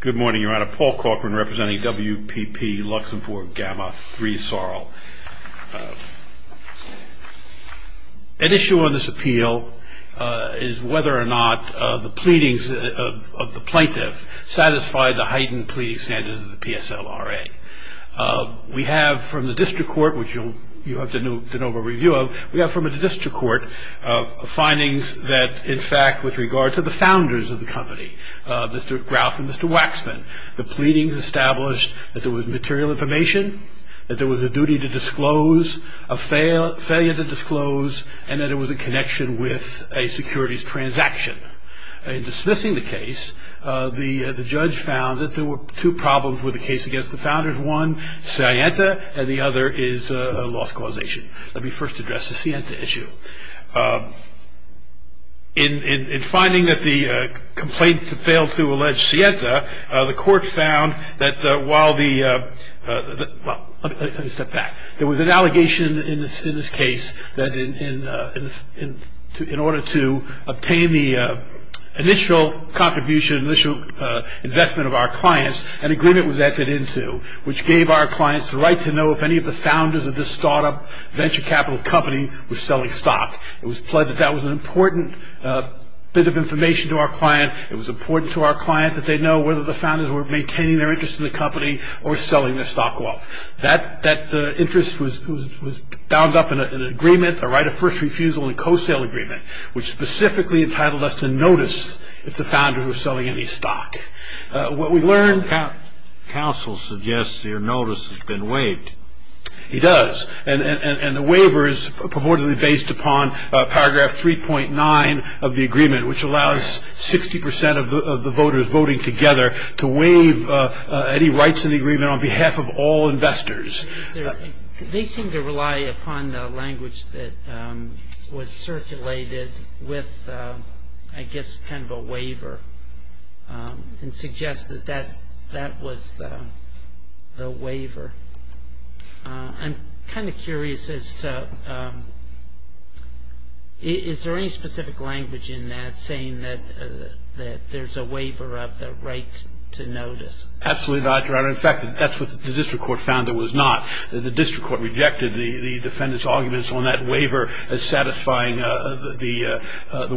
Good morning, Your Honor. Paul Cochran representing WPP Luxembourg Gamma Three Sar. An issue on this appeal is whether or not the pleadings of the plaintiff satisfied the heightened pleading standards of the PSLRA. We have from the district court, which you have to know the review of, we have from the district court findings that, in fact, with regard to the founders of the company, Mr. Graf and Mr. Waxman, the pleadings established that there was material information, that there was a duty to disclose, a failure to disclose, and that it was a connection with a securities transaction. In dismissing the case, the judge found that there were two problems with the case against the founders, one Sienta and the other is a loss causation. Let me first address the Sienta issue. In finding that the complaint failed to allege Sienta, the court found that while the, well, let me step back. There was an allegation in this case that in order to obtain the initial contribution, initial investment of our clients, an agreement was entered into which gave our clients the right to know if any of the founders of this startup venture capital company was selling stock. It was pledged that that was an important bit of information to our client. It was important to our client that they know whether the founders were maintaining their interest in the company or selling their stock off. That interest was bound up in an agreement, a right of first refusal and a co-sale agreement, which specifically entitled us to notice if the founders were selling any stock. What we learned- The counsel suggests your notice has been waived. It does. And the waiver is purportedly based upon paragraph 3.9 of the agreement, which allows 60 percent of the voters voting together to waive any rights in the agreement on behalf of all investors. They seem to rely upon the language that was circulated with, I guess, kind of a waiver and suggest that that was the waiver. I'm kind of curious as to is there any specific language in that saying that there's a waiver of the right to notice? Well, in fact, that's what the district court found there was not. The district court rejected the defendant's arguments on that waiver as satisfying the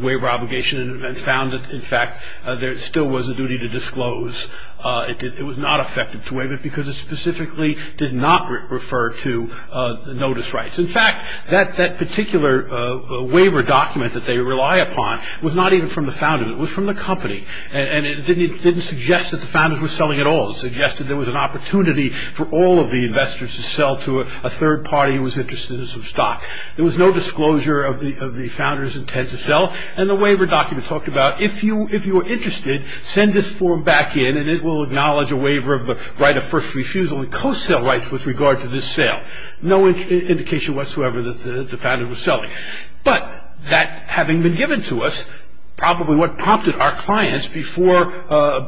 waiver obligation and found that, in fact, there still was a duty to disclose. It was not effective to waive it because it specifically did not refer to notice rights. In fact, that particular waiver document that they rely upon was not even from the founders. It was from the company, and it didn't suggest that the founders were selling at all. It suggested there was an opportunity for all of the investors to sell to a third party who was interested in some stock. There was no disclosure of the founders' intent to sell, and the waiver document talked about if you were interested, send this form back in, and it will acknowledge a waiver of the right of first refusal and co-sell rights with regard to this sale. No indication whatsoever that the founder was selling. But that having been given to us, probably what prompted our clients, before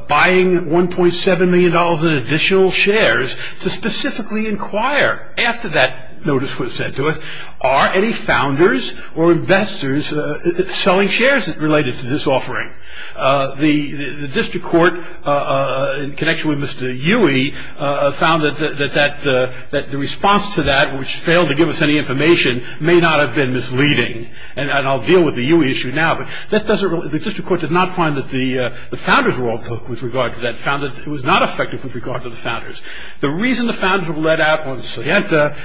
buying $1.7 million in additional shares, to specifically inquire after that notice was sent to us, are any founders or investors selling shares related to this offering? The district court, in connection with Mr. Huey, found that the response to that, which failed to give us any information, may not have been misleading. And I'll deal with the Huey issue now. But the district court did not find that the founders' role with regard to that, found that it was not effective with regard to the founders. The reason the founders were let out on Soyenta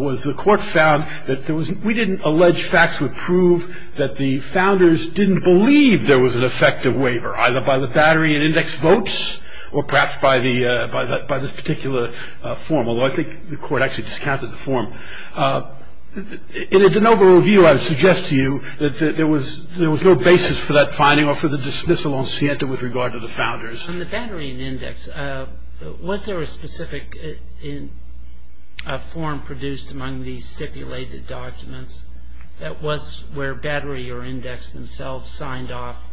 was the court found that we didn't allege facts would prove that the founders didn't believe there was an effective waiver, either by the battery in index votes or perhaps by this particular form, although I think the court actually discounted the form. In a de novo review, I would suggest to you that there was no basis for that finding or for the dismissal on Soyenta with regard to the founders. On the battery in index, was there a specific form produced among these stipulated documents that was where battery or index themselves signed off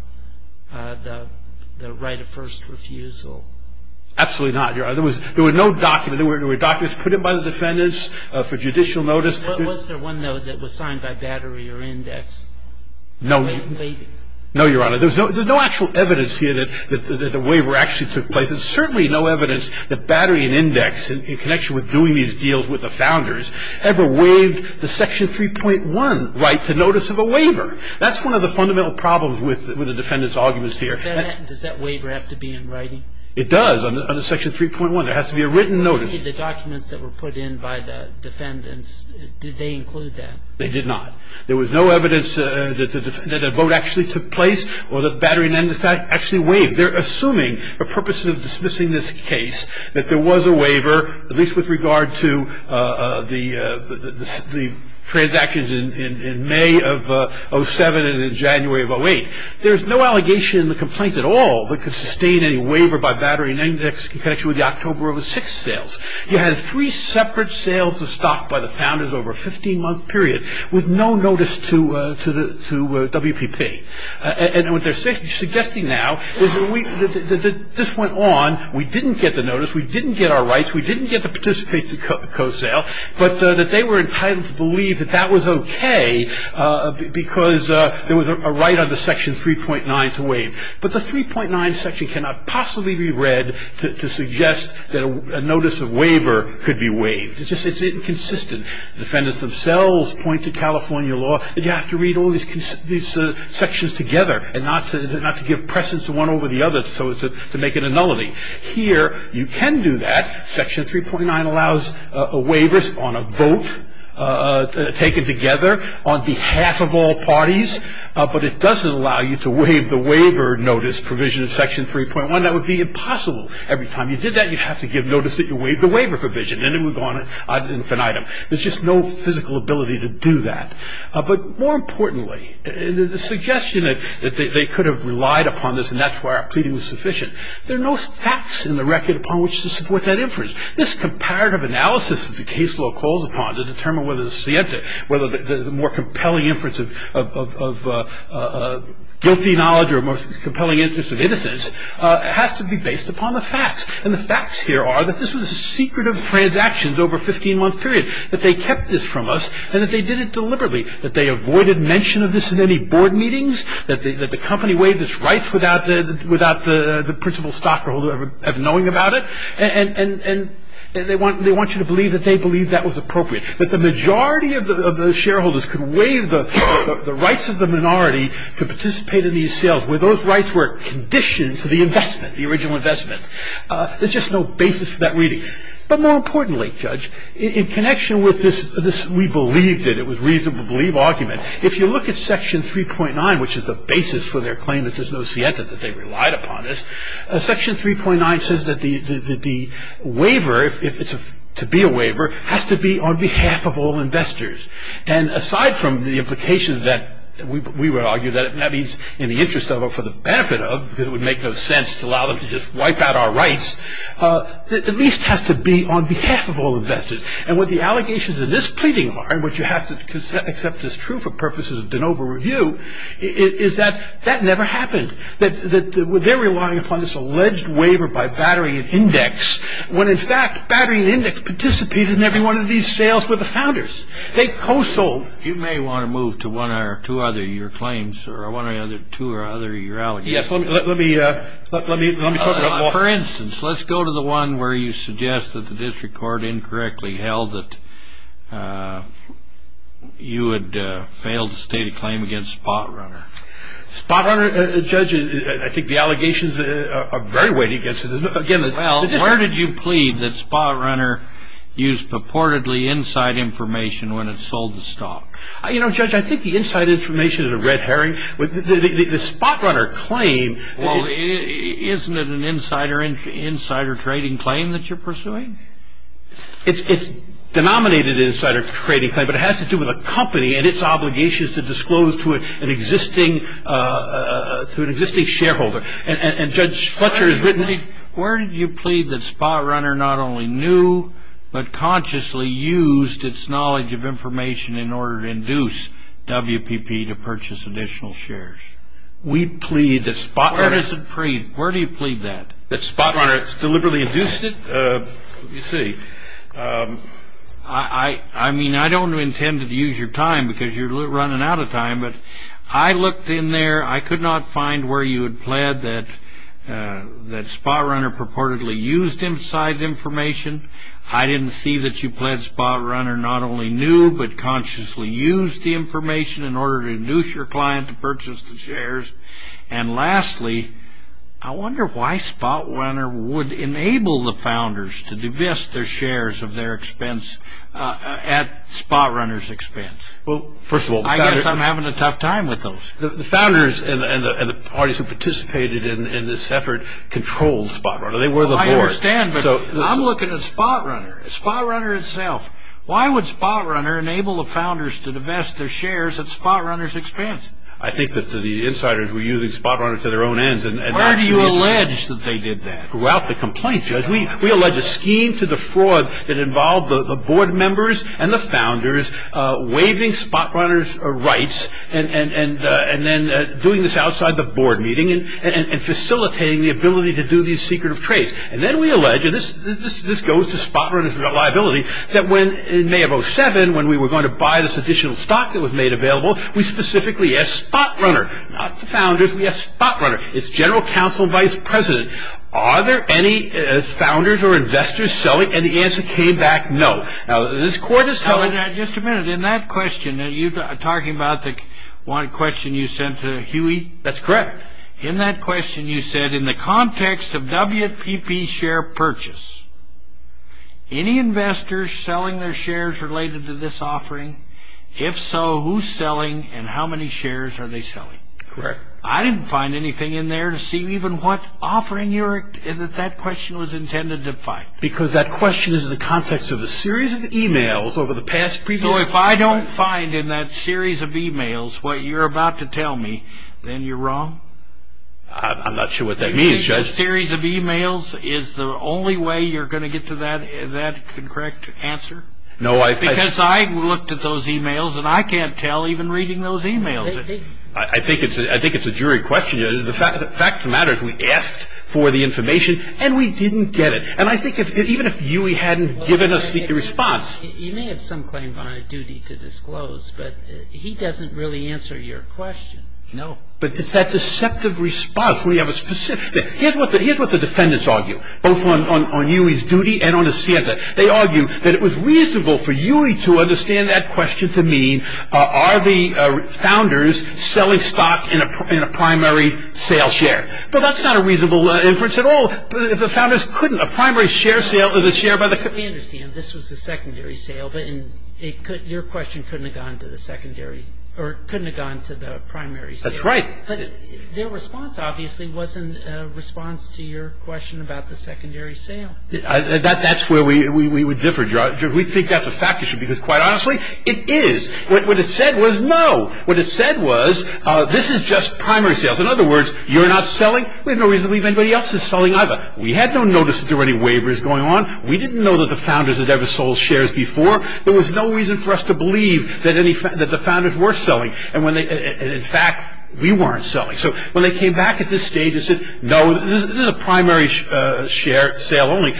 the right of first refusal? Absolutely not. There were documents put in by the defendants for judicial notice. Was there one, though, that was signed by battery or index? No, Your Honor. There's no actual evidence here that the waiver actually took place. There's certainly no evidence that battery and index, in connection with doing these deals with the founders, ever waived the Section 3.1 right to notice of a waiver. That's one of the fundamental problems with the defendants' arguments here. Does that waiver have to be in writing? It does. Under Section 3.1, there has to be a written notice. The documents that were put in by the defendants, did they include that? They did not. There was no evidence that a vote actually took place or that battery and index actually waived. They're assuming the purpose of dismissing this case that there was a waiver, at least with regard to the transactions in May of 2007 and in January of 2008. There's no allegation in the complaint at all that could sustain any waiver by battery and index in connection with the October of the sixth sales. You had three separate sales of stock by the founders over a 15-month period with no notice to WPP. And what they're suggesting now is that this went on, we didn't get the notice, we didn't get our rights, we didn't get to participate in the co-sale, but that they were entitled to believe that that was okay because there was a right under Section 3.9 to waive. But the 3.9 section cannot possibly be read to suggest that a notice of waiver could be waived. It's inconsistent. The defendants themselves point to California law that you have to read all these sections together and not to give precedence to one over the other to make it a nullity. Here, you can do that. Section 3.9 allows a waiver on a vote taken together on behalf of all parties, but it doesn't allow you to waive the waiver notice provision of Section 3.1. That would be impossible. Every time you did that, you'd have to give notice that you waived the waiver provision, and it would go on infinitum. There's just no physical ability to do that. But more importantly, the suggestion that they could have relied upon this, and that's why our pleading was sufficient, there are no facts in the record upon which to support that inference. This comparative analysis that the case law calls upon to determine whether the more compelling inference of guilty knowledge or a more compelling inference of innocence has to be based upon the facts. And the facts here are that this was a secretive transaction over a 15-month period, that they kept this from us, and that they did it deliberately, that they avoided mention of this in any board meetings, that the company waived its rights without the principal stockholder ever knowing about it, and they want you to believe that they believed that was appropriate, that the majority of the shareholders could waive the rights of the minority to participate in these sales where those rights were conditioned to the investment, the original investment. There's just no basis for that reading. But more importantly, Judge, in connection with this we believed it, if you look at Section 3.9, which is the basis for their claim that there's no sienta, that they relied upon this, Section 3.9 says that the waiver, if it's to be a waiver, has to be on behalf of all investors. And aside from the implication that we would argue that it may be in the interest of or for the benefit of, because it would make no sense to allow them to just wipe out our rights, the least has to be on behalf of all investors. And what the allegations in this pleading are, and what you have to accept is true for purposes of de novo review, is that that never happened, that they're relying upon this alleged waiver by Battery and Index, when in fact Battery and Index participated in every one of these sales with the founders. They co-sold. You may want to move to one or two other of your claims, or one or two other of your allegations. Yes, let me talk about that. For instance, let's go to the one where you suggest that the district court incorrectly held that you had failed to state a claim against Spot Runner. Spot Runner, Judge, I think the allegations are very weighty against it. Well, where did you plead that Spot Runner used purportedly inside information when it sold the stock? You know, Judge, I think the inside information is a red herring. The Spot Runner claim... Well, isn't it an insider trading claim that you're pursuing? It's a denominated insider trading claim, but it has to do with a company and its obligations to disclose to an existing shareholder. And Judge Fletcher has written... Where did you plead that Spot Runner not only knew, but consciously used its knowledge of information in order to induce WPP to purchase additional shares? We plead that Spot Runner... Where does it plead? Where do you plead that? That Spot Runner deliberately induced it? Let me see. I mean, I don't intend to use your time because you're running out of time, but I looked in there. I could not find where you had pled that Spot Runner purportedly used inside information. I didn't see that you pled Spot Runner not only knew, but consciously used the information in order to induce your client to purchase the shares. And lastly, I wonder why Spot Runner would enable the founders to divest their shares of their expense at Spot Runner's expense. Well, first of all... I guess I'm having a tough time with those. The founders and the parties who participated in this effort controlled Spot Runner. They were the board. I understand, but I'm looking at Spot Runner. Spot Runner itself. Why would Spot Runner enable the founders to divest their shares at Spot Runner's expense? I think that the insiders were using Spot Runner to their own ends. Where do you allege that they did that? Throughout the complaint, Judge. We allege a scheme to defraud that involved the board members and the founders waiving Spot Runner's rights and then doing this outside the board meeting and facilitating the ability to do these secretive trades. And then we allege, and this goes to Spot Runner's liability, that in May of 2007, when we were going to buy this additional stock that was made available, we specifically asked Spot Runner, not the founders, we asked Spot Runner, its general counsel vice president, are there any founders or investors selling? And the answer came back no. Now, this court is telling... Just a minute. In that question, you're talking about the one question you sent to Huey? That's correct. In that question, you said, in the context of WPP share purchase, any investors selling their shares related to this offering? If so, who's selling and how many shares are they selling? Correct. I didn't find anything in there to see even what offering that question was intended to find. Because that question is in the context of a series of e-mails over the past... So if I don't find in that series of e-mails what you're about to tell me, then you're wrong? I'm not sure what that means, Judge. You think a series of e-mails is the only way you're going to get to that correct answer? Because I looked at those e-mails and I can't tell even reading those e-mails. I think it's a jury question. The fact of the matter is we asked for the information and we didn't get it. And I think even if Huey hadn't given us the response... You may have some claim on a duty to disclose, but he doesn't really answer your question. No. But it's that deceptive response where you have a specific... Here's what the defendants argue, both on Huey's duty and on the Santa. They argue that it was reasonable for Huey to understand that question to mean, are the founders selling stock in a primary sale share? But that's not a reasonable inference at all. The founders couldn't. A primary share sale is a share by the... I understand. This was a secondary sale, but your question couldn't have gone to the primary sale. That's right. But their response obviously wasn't a response to your question about the secondary sale. That's where we would differ, Judge. We think that's a fact. It should be quite honestly. It is. What it said was no. What it said was this is just primary sales. In other words, you're not selling. We have no reason to believe anybody else is selling either. We had no notice that there were any waivers going on. We didn't know that the founders had ever sold shares before. There was no reason for us to believe that the founders were selling. And in fact, we weren't selling. So when they came back at this stage and said no, this is a primary sale only,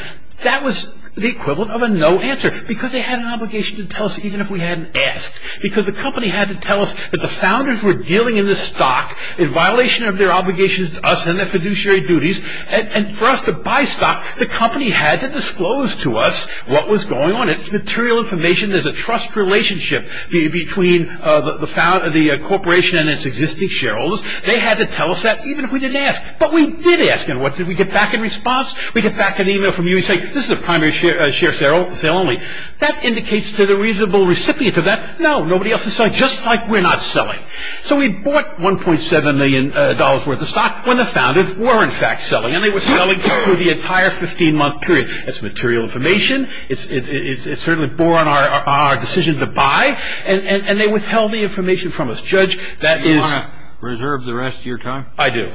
that was the equivalent of a no answer because they had an obligation to tell us even if we hadn't asked. Because the company had to tell us that the founders were dealing in the stock in violation of their obligations to us and their fiduciary duties. And for us to buy stock, the company had to disclose to us what was going on. It's material information. There's a trust relationship between the corporation and its existing shareholders. They had to tell us that even if we didn't ask. But we did ask. And what did we get back in response? We get back an email from you saying this is a primary share sale only. That indicates to the reasonable recipient of that no, nobody else is selling, just like we're not selling. So we bought $1.7 million worth of stock when the founders were in fact selling. And they were selling through the entire 15-month period. That's material information. It certainly bore on our decision to buy. And they withheld the information from us. So, Judge, that is. Do you want to reserve the rest of your time? I do.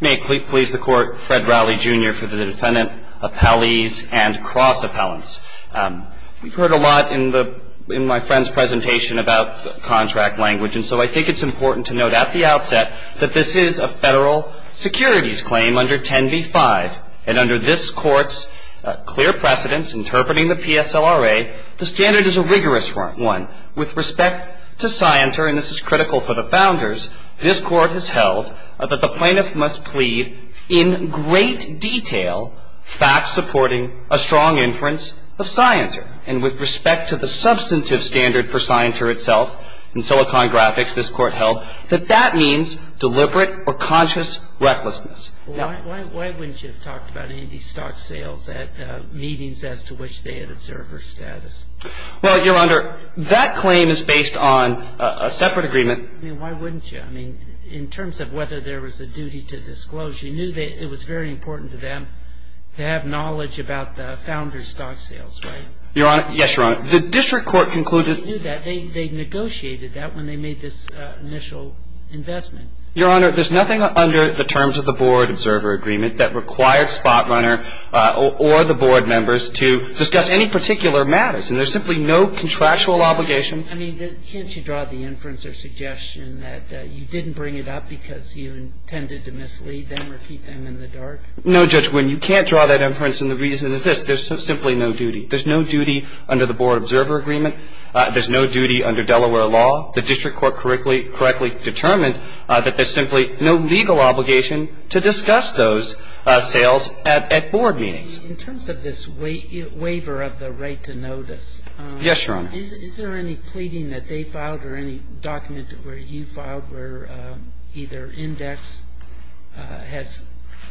May it please the Court, Fred Rowley, Jr., for the defendant, appellees, and cross-appellants. We've heard a lot in my friend's presentation about contract language. And so I think it's important to note at the outset that this is a federal securities claim under 10b-5. And under this Court's clear precedence interpreting the PSLRA, the standard is a rigorous one. With respect to Scienter, and this is critical for the founders, this Court has held that the plaintiff must plead in great detail facts supporting a strong inference of Scienter. And with respect to the substantive standard for Scienter itself, in Silicon Graphics, this Court held that that means deliberate or conscious recklessness. Why wouldn't you have talked about any of these stock sales at meetings as to which they had observed her status? Well, Your Honor, that claim is based on a separate agreement. I mean, why wouldn't you? I mean, in terms of whether there was a duty to disclose, you knew it was very important to them to have knowledge about the founders' stock sales, right? Your Honor, yes, Your Honor. The district court concluded that they negotiated that when they made this initial investment. Your Honor, there's nothing under the terms of the board observer agreement that required Spotrunner or the board members to discuss any particular matters. And there's simply no contractual obligation. I mean, can't you draw the inference or suggestion that you didn't bring it up because you intended to mislead them or keep them in the dark? No, Judge Winn. You can't draw that inference. And the reason is this. There's simply no duty. There's no duty under the board observer agreement. There's no duty under Delaware law. The district court correctly determined that there's simply no legal obligation to discuss those sales at board meetings. In terms of this waiver of the right to notice. Yes, Your Honor. Is there any pleading that they filed or any document where you filed where either has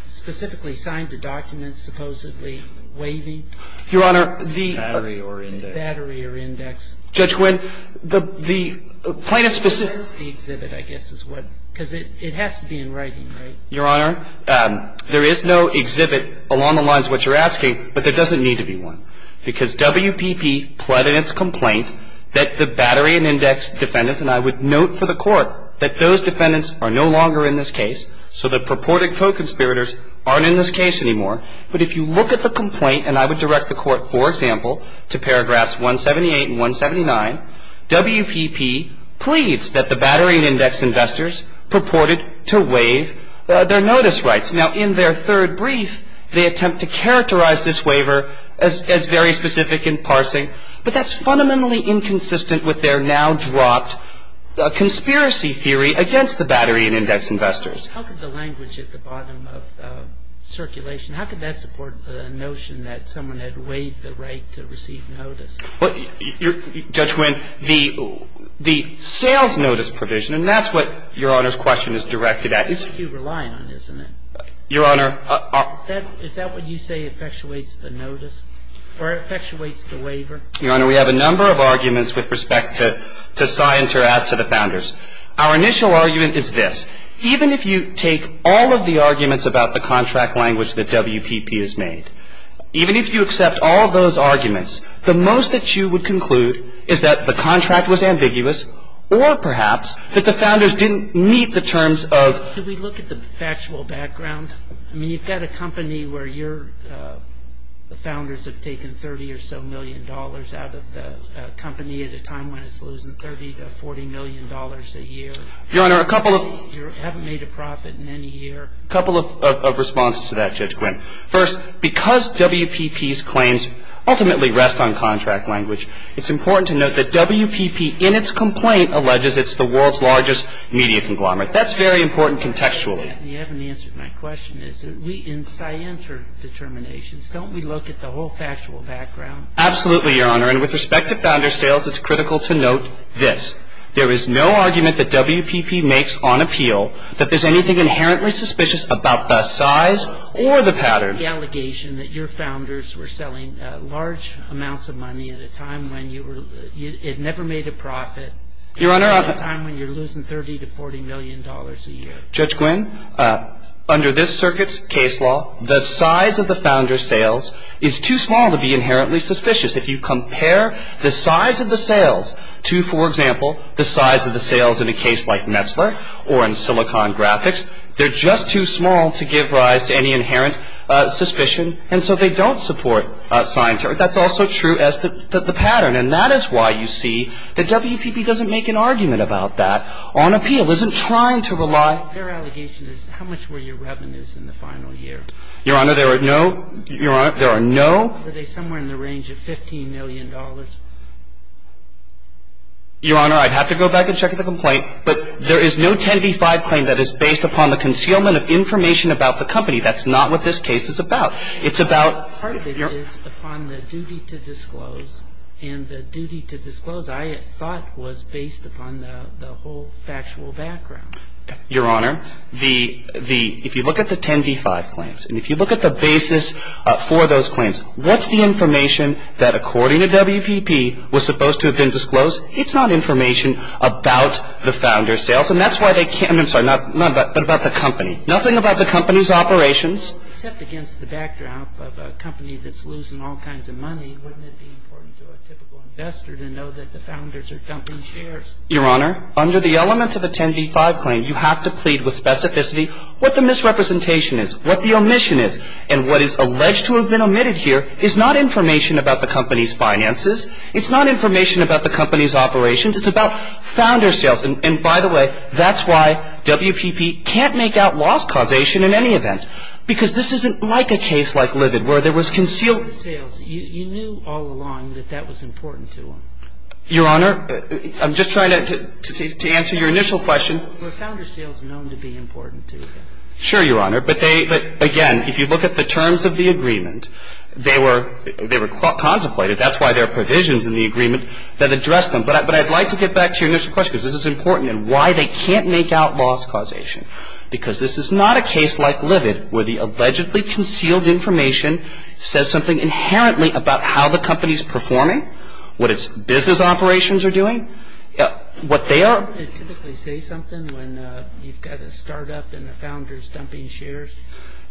specifically signed the document supposedly waiving? Your Honor, the. Battery or index. Battery or index. Judge Winn, the plaintiff's. Exhibit, I guess, is what. Because it has to be in writing, right? Your Honor, there is no exhibit along the lines of what you're asking, but there doesn't need to be one. Because WPP pled in its complaint that the battery and index defendants, and I would note for the court that those defendants are no longer in this case. So the purported co-conspirators aren't in this case anymore. But if you look at the complaint, and I would direct the court, for example, to paragraphs 178 and 179, WPP pleads that the battery and index investors purported to waive their notice rights. Now, in their third brief, they attempt to characterize this waiver as very specific in parsing, but that's fundamentally inconsistent with their now dropped conspiracy theory against the battery and index investors. How could the language at the bottom of circulation, how could that support the notion that someone had waived the right to receive notice? Judge Winn, the sales notice provision, and that's what Your Honor's question is directed at. You're relying on it, isn't it? Your Honor. Is that what you say effectuates the notice or effectuates the waiver? Your Honor, we have a number of arguments with respect to Scienter as to the founders. Our initial argument is this. Even if you take all of the arguments about the contract language that WPP has made, even if you accept all of those arguments, the most that you would conclude is that the contract was ambiguous or, perhaps, that the founders didn't meet the terms of Could we look at the factual background? I mean, you've got a company where your founders have taken 30 or so million dollars out of the company at a time when it's losing 30 to 40 million dollars a year. Your Honor, a couple of You haven't made a profit in any year. A couple of responses to that, Judge Grimm. First, because WPP's claims ultimately rest on contract language, it's important to note that WPP, in its complaint, alleges it's the world's largest media conglomerate. That's very important contextually. And you haven't answered my question. In Scienter determinations, don't we look at the whole factual background? Absolutely, Your Honor. And with respect to founder sales, it's critical to note this. There is no argument that WPP makes on appeal that there's anything inherently suspicious about the size or the pattern The allegation that your founders were selling large amounts of money at a time when you were, it never made a profit Your Honor At a time when you're losing 30 to 40 million dollars a year. Judge Grimm, under this circuit's case law, the size of the founder sales is too suspicious. If you compare the size of the sales to, for example, the size of the sales in a case like Metzler or in Silicon Graphics, they're just too small to give rise to any inherent suspicion. And so they don't support Scienter. That's also true as to the pattern. And that is why you see that WPP doesn't make an argument about that on appeal, isn't trying to rely Their allegation is how much were your revenues in the final year? Your Honor, there are no Your Honor, there are no Were they somewhere in the range of 15 million dollars? Your Honor, I'd have to go back and check the complaint, but there is no 10b-5 claim that is based upon the concealment of information about the company. That's not what this case is about. It's about Part of it is upon the duty to disclose, and the duty to disclose, I thought, was based upon the whole factual background. Your Honor, if you look at the 10b-5 claims, and if you look at the basis for those What's the information that, according to WPP, was supposed to have been disclosed? It's not information about the founder's sales. And that's why they can't I'm sorry, not about But about the company. Nothing about the company's operations. Except against the background of a company that's losing all kinds of money, wouldn't it be important to a typical investor to know that the founders are company shares? Your Honor, under the elements of a 10b-5 claim, you have to plead with specificity what the misrepresentation is, what the omission is. And what is alleged to have been omitted here is not information about the company's finances. It's not information about the company's operations. It's about founder sales. And by the way, that's why WPP can't make out loss causation in any event, because this isn't like a case like Livid, where there was concealed You knew all along that that was important to them. Your Honor, I'm just trying to answer your initial question. Were founder sales known to be important to them? Sure, Your Honor. But again, if you look at the terms of the agreement, they were contemplated. That's why there are provisions in the agreement that address them. But I'd like to get back to your initial question, because this is important, and why they can't make out loss causation. Because this is not a case like Livid, where the allegedly concealed information says something inherently about how the company's performing, what its business operations are doing. What they are Don't they typically say something when you've got a startup and a founder's dumping shares?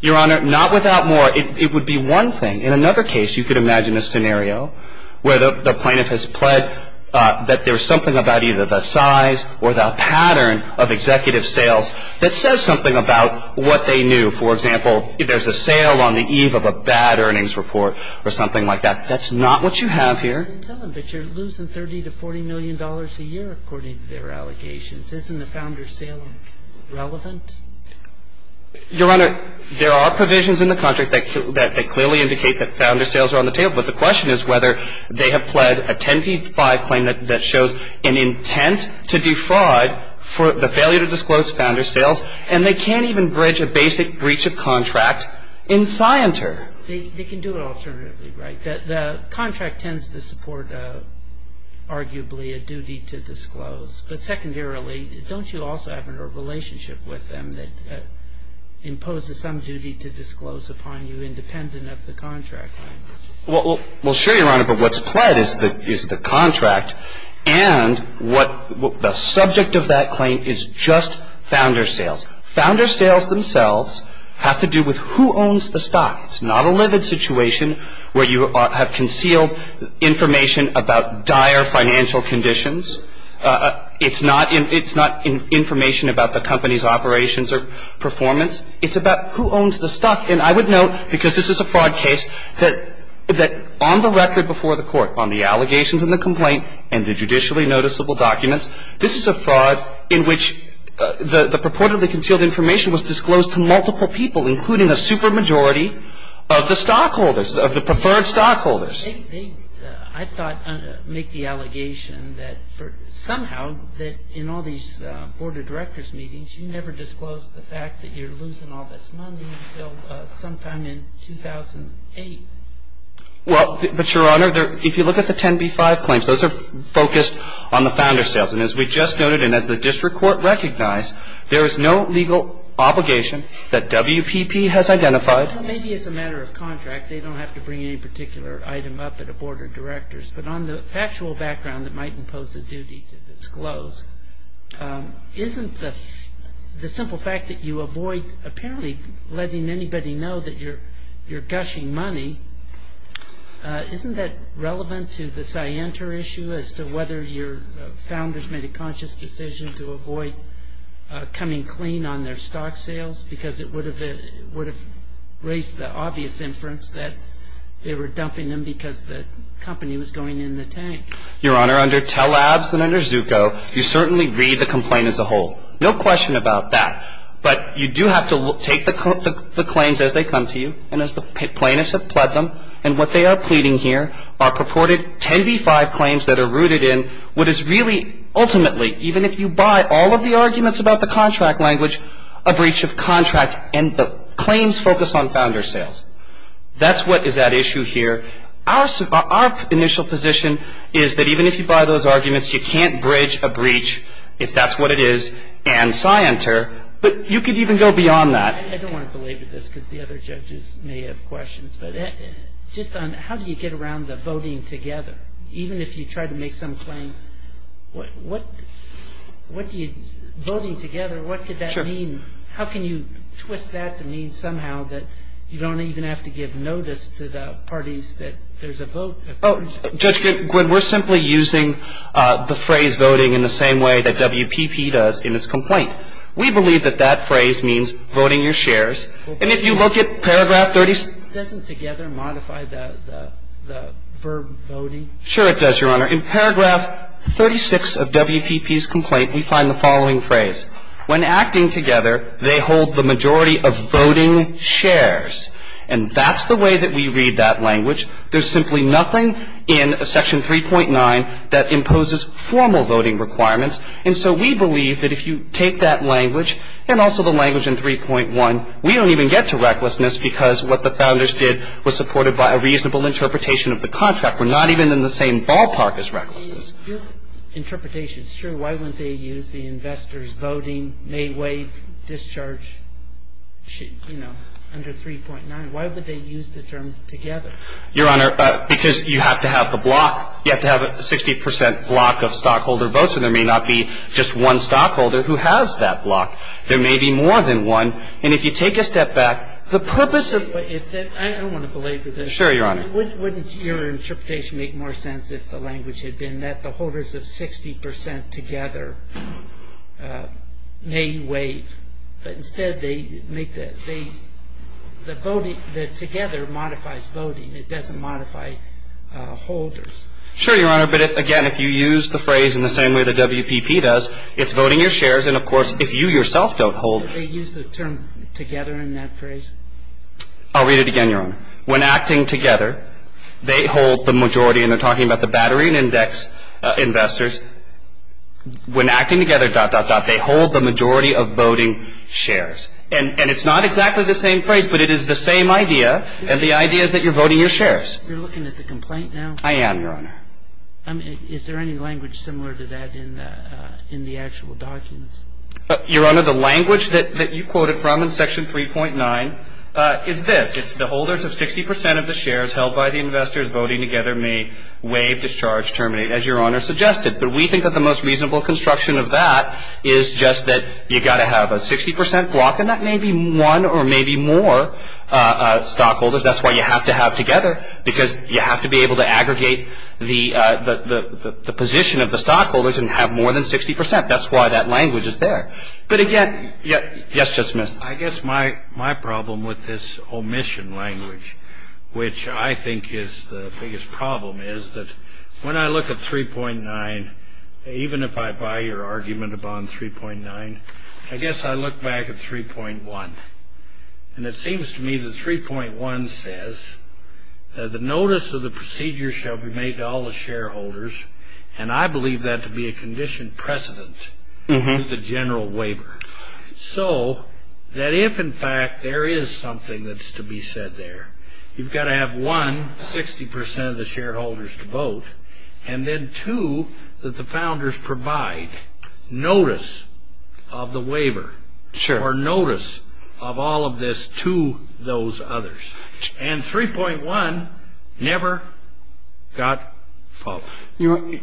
Your Honor, not without more. It would be one thing. In another case, you could imagine a scenario where the plaintiff has pled that there's something about either the size or the pattern of executive sales that says something about what they knew. For example, if there's a sale on the eve of a bad earnings report or something like that, that's not what you have here. But you're losing 30 to $40 million a year, according to their allegations. Isn't the founder's sale relevant? Your Honor, there are provisions in the contract that clearly indicate that founder's sales are on the table. But the question is whether they have pled a 10-feet-5 claim that shows an intent to defraud for the failure to disclose founder's sales, and they can't even bridge a basic breach of contract in Scienter. They can do it alternatively, right? The contract tends to support, arguably, a duty to disclose. But secondarily, don't you also have a relationship with them that imposes some duty to disclose upon you independent of the contract? Well, sure, Your Honor. But what's pled is the contract. And the subject of that claim is just founder's sales. Founder's sales themselves have to do with who owns the stock. It's not a livid situation where you have concealed information about dire financial conditions. It's not information about the company's operations or performance. It's about who owns the stock. And I would note, because this is a fraud case, that on the record before the court, on the allegations in the complaint and the judicially noticeable documents, this is a fraud in which the purportedly concealed information was disclosed to multiple people, including a supermajority of the stockholders, of the preferred stockholders. They, I thought, make the allegation that somehow that in all these board of directors meetings, you never disclose the fact that you're losing all this money until sometime in 2008. Well, but, Your Honor, if you look at the 10b-5 claims, those are focused on the founder's sales. And as we just noted and as the district court recognized, there is no legal obligation that WPP has identified. Well, maybe it's a matter of contract. They don't have to bring any particular item up at a board of directors. But on the factual background that might impose a duty to disclose, isn't the simple fact that you avoid apparently letting anybody know that you're gushing money, isn't that relevant to the Scienter issue as to whether your founders made a conscious decision to avoid coming clean on their stock sales? Because it would have raised the obvious inference that they were dumping them because the company was going in the tank. Your Honor, under Telabs and under Zucco, you certainly read the complaint as a whole. No question about that. But you do have to take the claims as they come to you and as the plaintiffs have pled them. And what they are pleading here are purported 10b-5 claims that are rooted in what is really ultimately, even if you buy all of the arguments about the contract language, a breach of contract. And the claims focus on founder sales. That's what is at issue here. Our initial position is that even if you buy those arguments, you can't bridge a breach, if that's what it is, and Scienter, but you could even go beyond that. I don't want to belabor this because the other judges may have questions, but just on how do you get around the voting together? Even if you try to make some claim, what do you, voting together, what could that mean? How can you twist that to mean somehow that you don't even have to give notice to the parties that there's a vote? Oh, Judge Goodwin, we're simply using the phrase voting in the same way that WPP does in its complaint. We believe that that phrase means voting your shares. And if you look at paragraph 36. Doesn't together modify the verb voting? Sure it does, Your Honor. In paragraph 36 of WPP's complaint, we find the following phrase. When acting together, they hold the majority of voting shares. And that's the way that we read that language. There's simply nothing in section 3.9 that imposes formal voting requirements. And so we believe that if you take that language and also the language in 3.1, we don't even get to recklessness because what the founders did was supported by a reasonable interpretation of the contract. We're not even in the same ballpark as recklessness. If interpretation's true, why wouldn't they use the investors voting, may waive, discharge, you know, under 3.9? Why would they use the term together? Your Honor, because you have to have the block. You have to have a 60 percent block of stockholder votes, and there may not be just one stockholder who has that block. There may be more than one. And if you take a step back, the purpose of the ---- I don't want to belabor this. Sure, Your Honor. Wouldn't your interpretation make more sense if the language had been that the holders of 60 percent together may waive? But instead, they make the voting that together modifies voting. It doesn't modify holders. Sure, Your Honor. But, again, if you use the phrase in the same way the WPP does, it's voting your shares. And, of course, if you yourself don't hold ---- Don't they use the term together in that phrase? I'll read it again, Your Honor. When acting together, they hold the majority. And they're talking about the battery and index investors. When acting together, dot, dot, dot, they hold the majority of voting shares. And it's not exactly the same phrase, but it is the same idea, and the idea is that you're voting your shares. You're looking at the complaint now? I am, Your Honor. Is there any language similar to that in the actual documents? Your Honor, the language that you quoted from in Section 3.9 is this. It's the holders of 60 percent of the shares held by the investors voting together may waive, discharge, terminate, as Your Honor suggested. But we think that the most reasonable construction of that is just that you've got to have a 60 percent block, and that may be one or maybe more stockholders. That's why you have to have together, because you have to be able to aggregate the position of the stockholders and have more than 60 percent. That's why that language is there. But, again, yes, Judge Smith? I guess my problem with this omission language, which I think is the biggest problem, is that when I look at 3.9, even if I buy your argument upon 3.9, I guess I look back at 3.1, and it seems to me that 3.1 says that the notice of the procedure shall be made to all the shareholders, and I believe that to be a condition precedent with the general waiver. So that if, in fact, there is something that's to be said there, you've got to have, one, 60 percent of the shareholders to vote, and then, two, that the founders provide notice of the waiver. Sure. Or notice of all of this to those others. And 3.1 never got followed.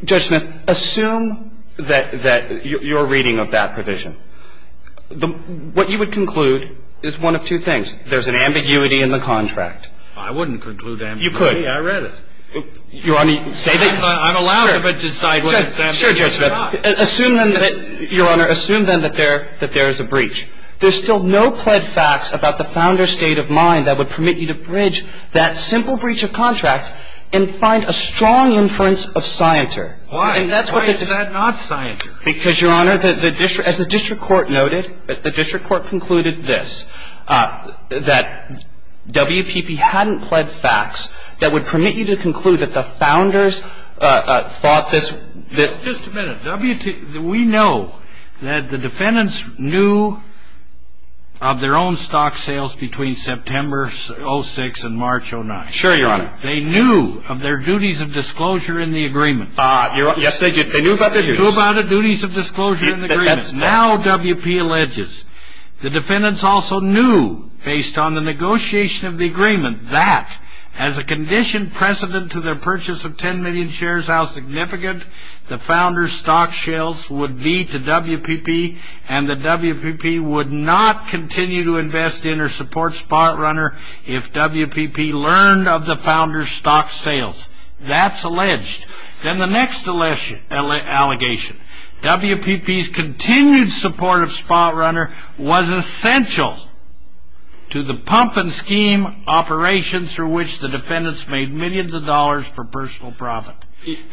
Judge Smith, assume that you're reading of that provision. What you would conclude is one of two things. There's an ambiguity in the contract. I wouldn't conclude ambiguity. You could. I read it. Your Honor, say that. I'm allowed to decide what it says. Sure, Judge Smith. Assume then that, Your Honor, assume then that there is a breach. There's still no pled facts about the founder's state of mind that would permit you to bridge that simple breach of contract and find a strong inference of scienter. Why is that not scienter? Because, Your Honor, as the district court noted, the district court concluded this, that WPP hadn't pled facts that would permit you to conclude that the founders thought this. Just a minute. We know that the defendants knew of their own stock sales between September of 2006 and March of 2009. Sure, Your Honor. They knew of their duties of disclosure in the agreement. Yes, they did. They knew about the duties. They knew about the duties of disclosure in the agreement. Now WPP alleges the defendants also knew, based on the negotiation of the agreement, that as a conditioned precedent to their purchase of 10 million shares, how significant the founders' stock sales would be to WPP, and that WPP would not continue to invest in or support SpotRunner if WPP learned of the founders' stock sales. That's alleged. Then the next allegation. WPP's continued support of SpotRunner was essential to the pump and scheme operations through which the defendants made millions of dollars for personal profit.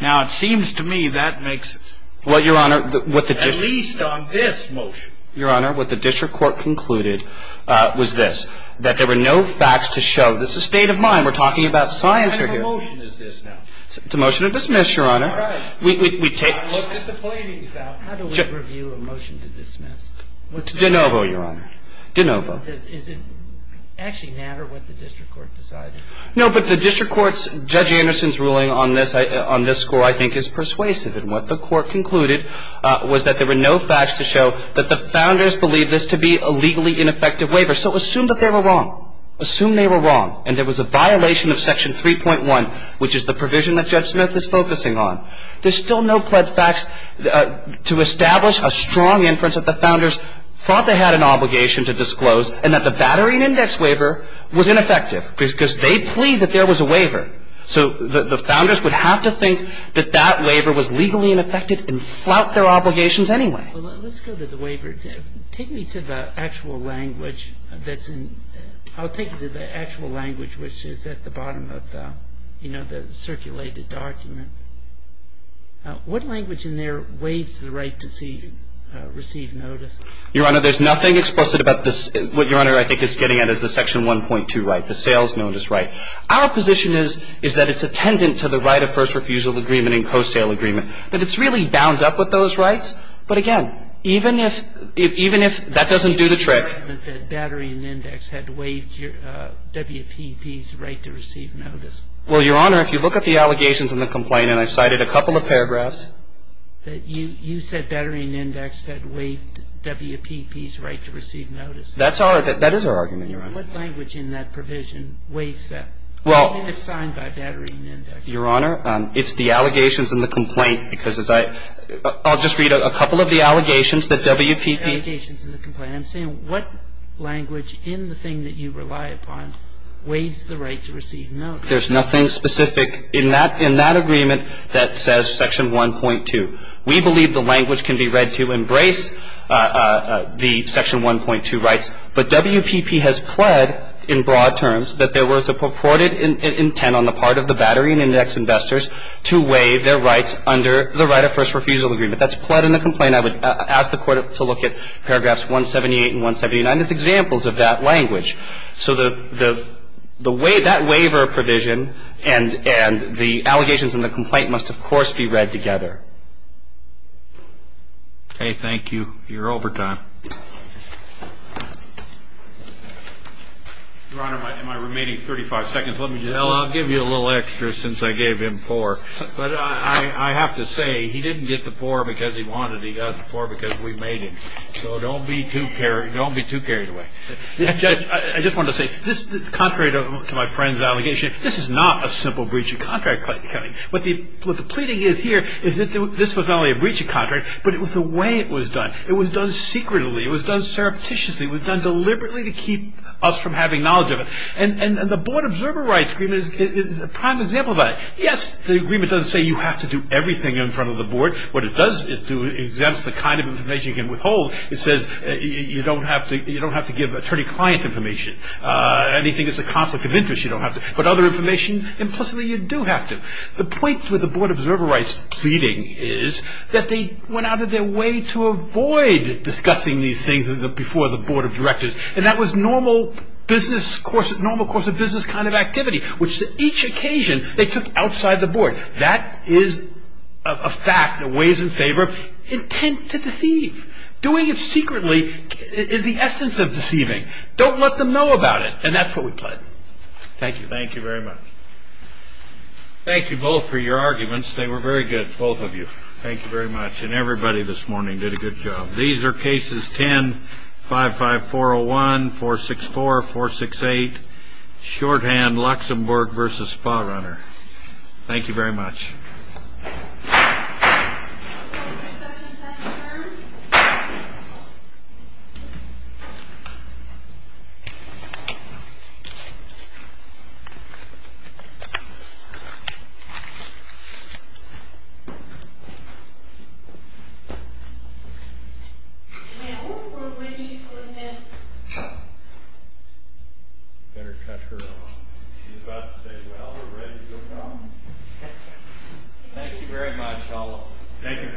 Now it seems to me that makes sense. Well, Your Honor, what the district court concluded was this, that there were no facts to show. This is a state of mind. We're talking about science here. What kind of a motion is this now? It's a motion to dismiss, Your Honor. All right. We take a look at the plaintiffs now. How do we review a motion to dismiss? It's de novo, Your Honor. De novo. Does it actually matter what the district court decided? No, but the district court's, Judge Anderson's ruling on this score I think is persuasive and what the court concluded was that there were no facts to show that the founders believed this to be a legally ineffective waiver. So assume that they were wrong. Assume they were wrong and there was a violation of Section 3.1, which is the provision that Judge Smith is focusing on. There's still no pled facts to establish a strong inference that the founders thought they had an obligation to disclose and that the battery and index waiver was ineffective because they plead that there was a waiver. So the founders would have to think that that waiver was legally ineffective and flout their obligations anyway. Well, let's go to the waiver. Take me to the actual language that's in – I'll take you to the actual language which is at the bottom of the, you know, the circulated document. What language in there waives the right to receive notice? Your Honor, there's nothing explicit about this. What Your Honor, I think, is getting at is the Section 1.2 right, the sales notice right. Our position is that it's attendant to the right of first refusal agreement and co-sale agreement, that it's really bound up with those rights. But again, even if – even if that doesn't do the trick. The battery and index had waived WPP's right to receive notice. Well, Your Honor, if you look at the allegations and the complaint, and I've cited a couple of paragraphs. You said battery and index had waived WPP's right to receive notice. That's our – that is our argument, Your Honor. And what language in that provision waives that, even if signed by battery and index? Your Honor, it's the allegations and the complaint, because as I – I'll just read a couple of the allegations that WPP – Allegations and the complaint. I'm saying what language in the thing that you rely upon waives the right to receive notice? There's nothing specific in that – in that agreement that says Section 1.2. We believe the language can be read to embrace the Section 1.2 rights. But WPP has pled in broad terms that there was a purported intent on the part of the battery and index investors to waive their rights under the right of first refusal agreement. That's pled in the complaint. I would ask the Court to look at paragraphs 178 and 179 as examples of that language. So the – the waiver – that waiver provision and – and the allegations and the complaint must, of course, be read together. Okay. Thank you. Your overtime. Your Honor, my – my remaining 35 seconds. Let me just – Well, I'll give you a little extra since I gave him four. But I – I have to say, he didn't get the four because he wanted it. He got the four because we made it. So don't be too – don't be too carried away. Judge, I just wanted to say, this – contrary to my friend's allegation, this is not a simple breach of contract. What the – what the pleading is here is that this was not only a breach of contract, but it was the way it was done. It was done secretly. It was done surreptitiously. It was done deliberately to keep us from having knowledge of it. And the board observer rights agreement is a prime example of that. Yes, the agreement doesn't say you have to do everything in front of the board. What it does, it exempts the kind of information you can withhold. It says you don't have to – you don't have to give attorney-client information. Anything that's a conflict of interest, you don't have to. But other information, implicitly, you do have to. The point with the board observer rights pleading is that they went out of their way to avoid discussing these things before the board of directors. And that was normal business – normal course of business kind of activity, which each occasion they took outside the board. That is a fact that weighs in favor of intent to deceive. Doing it secretly is the essence of deceiving. Don't let them know about it. And that's what we pled. Thank you. Thank you very much. Thank you both for your arguments. They were very good, both of you. Thank you very much. And everybody this morning did a good job. These are cases 10-55401, 464, 468, shorthand Luxembourg v. Spa Runner. Thank you very much. Thank you very much, all of you. Thank you. Thank you.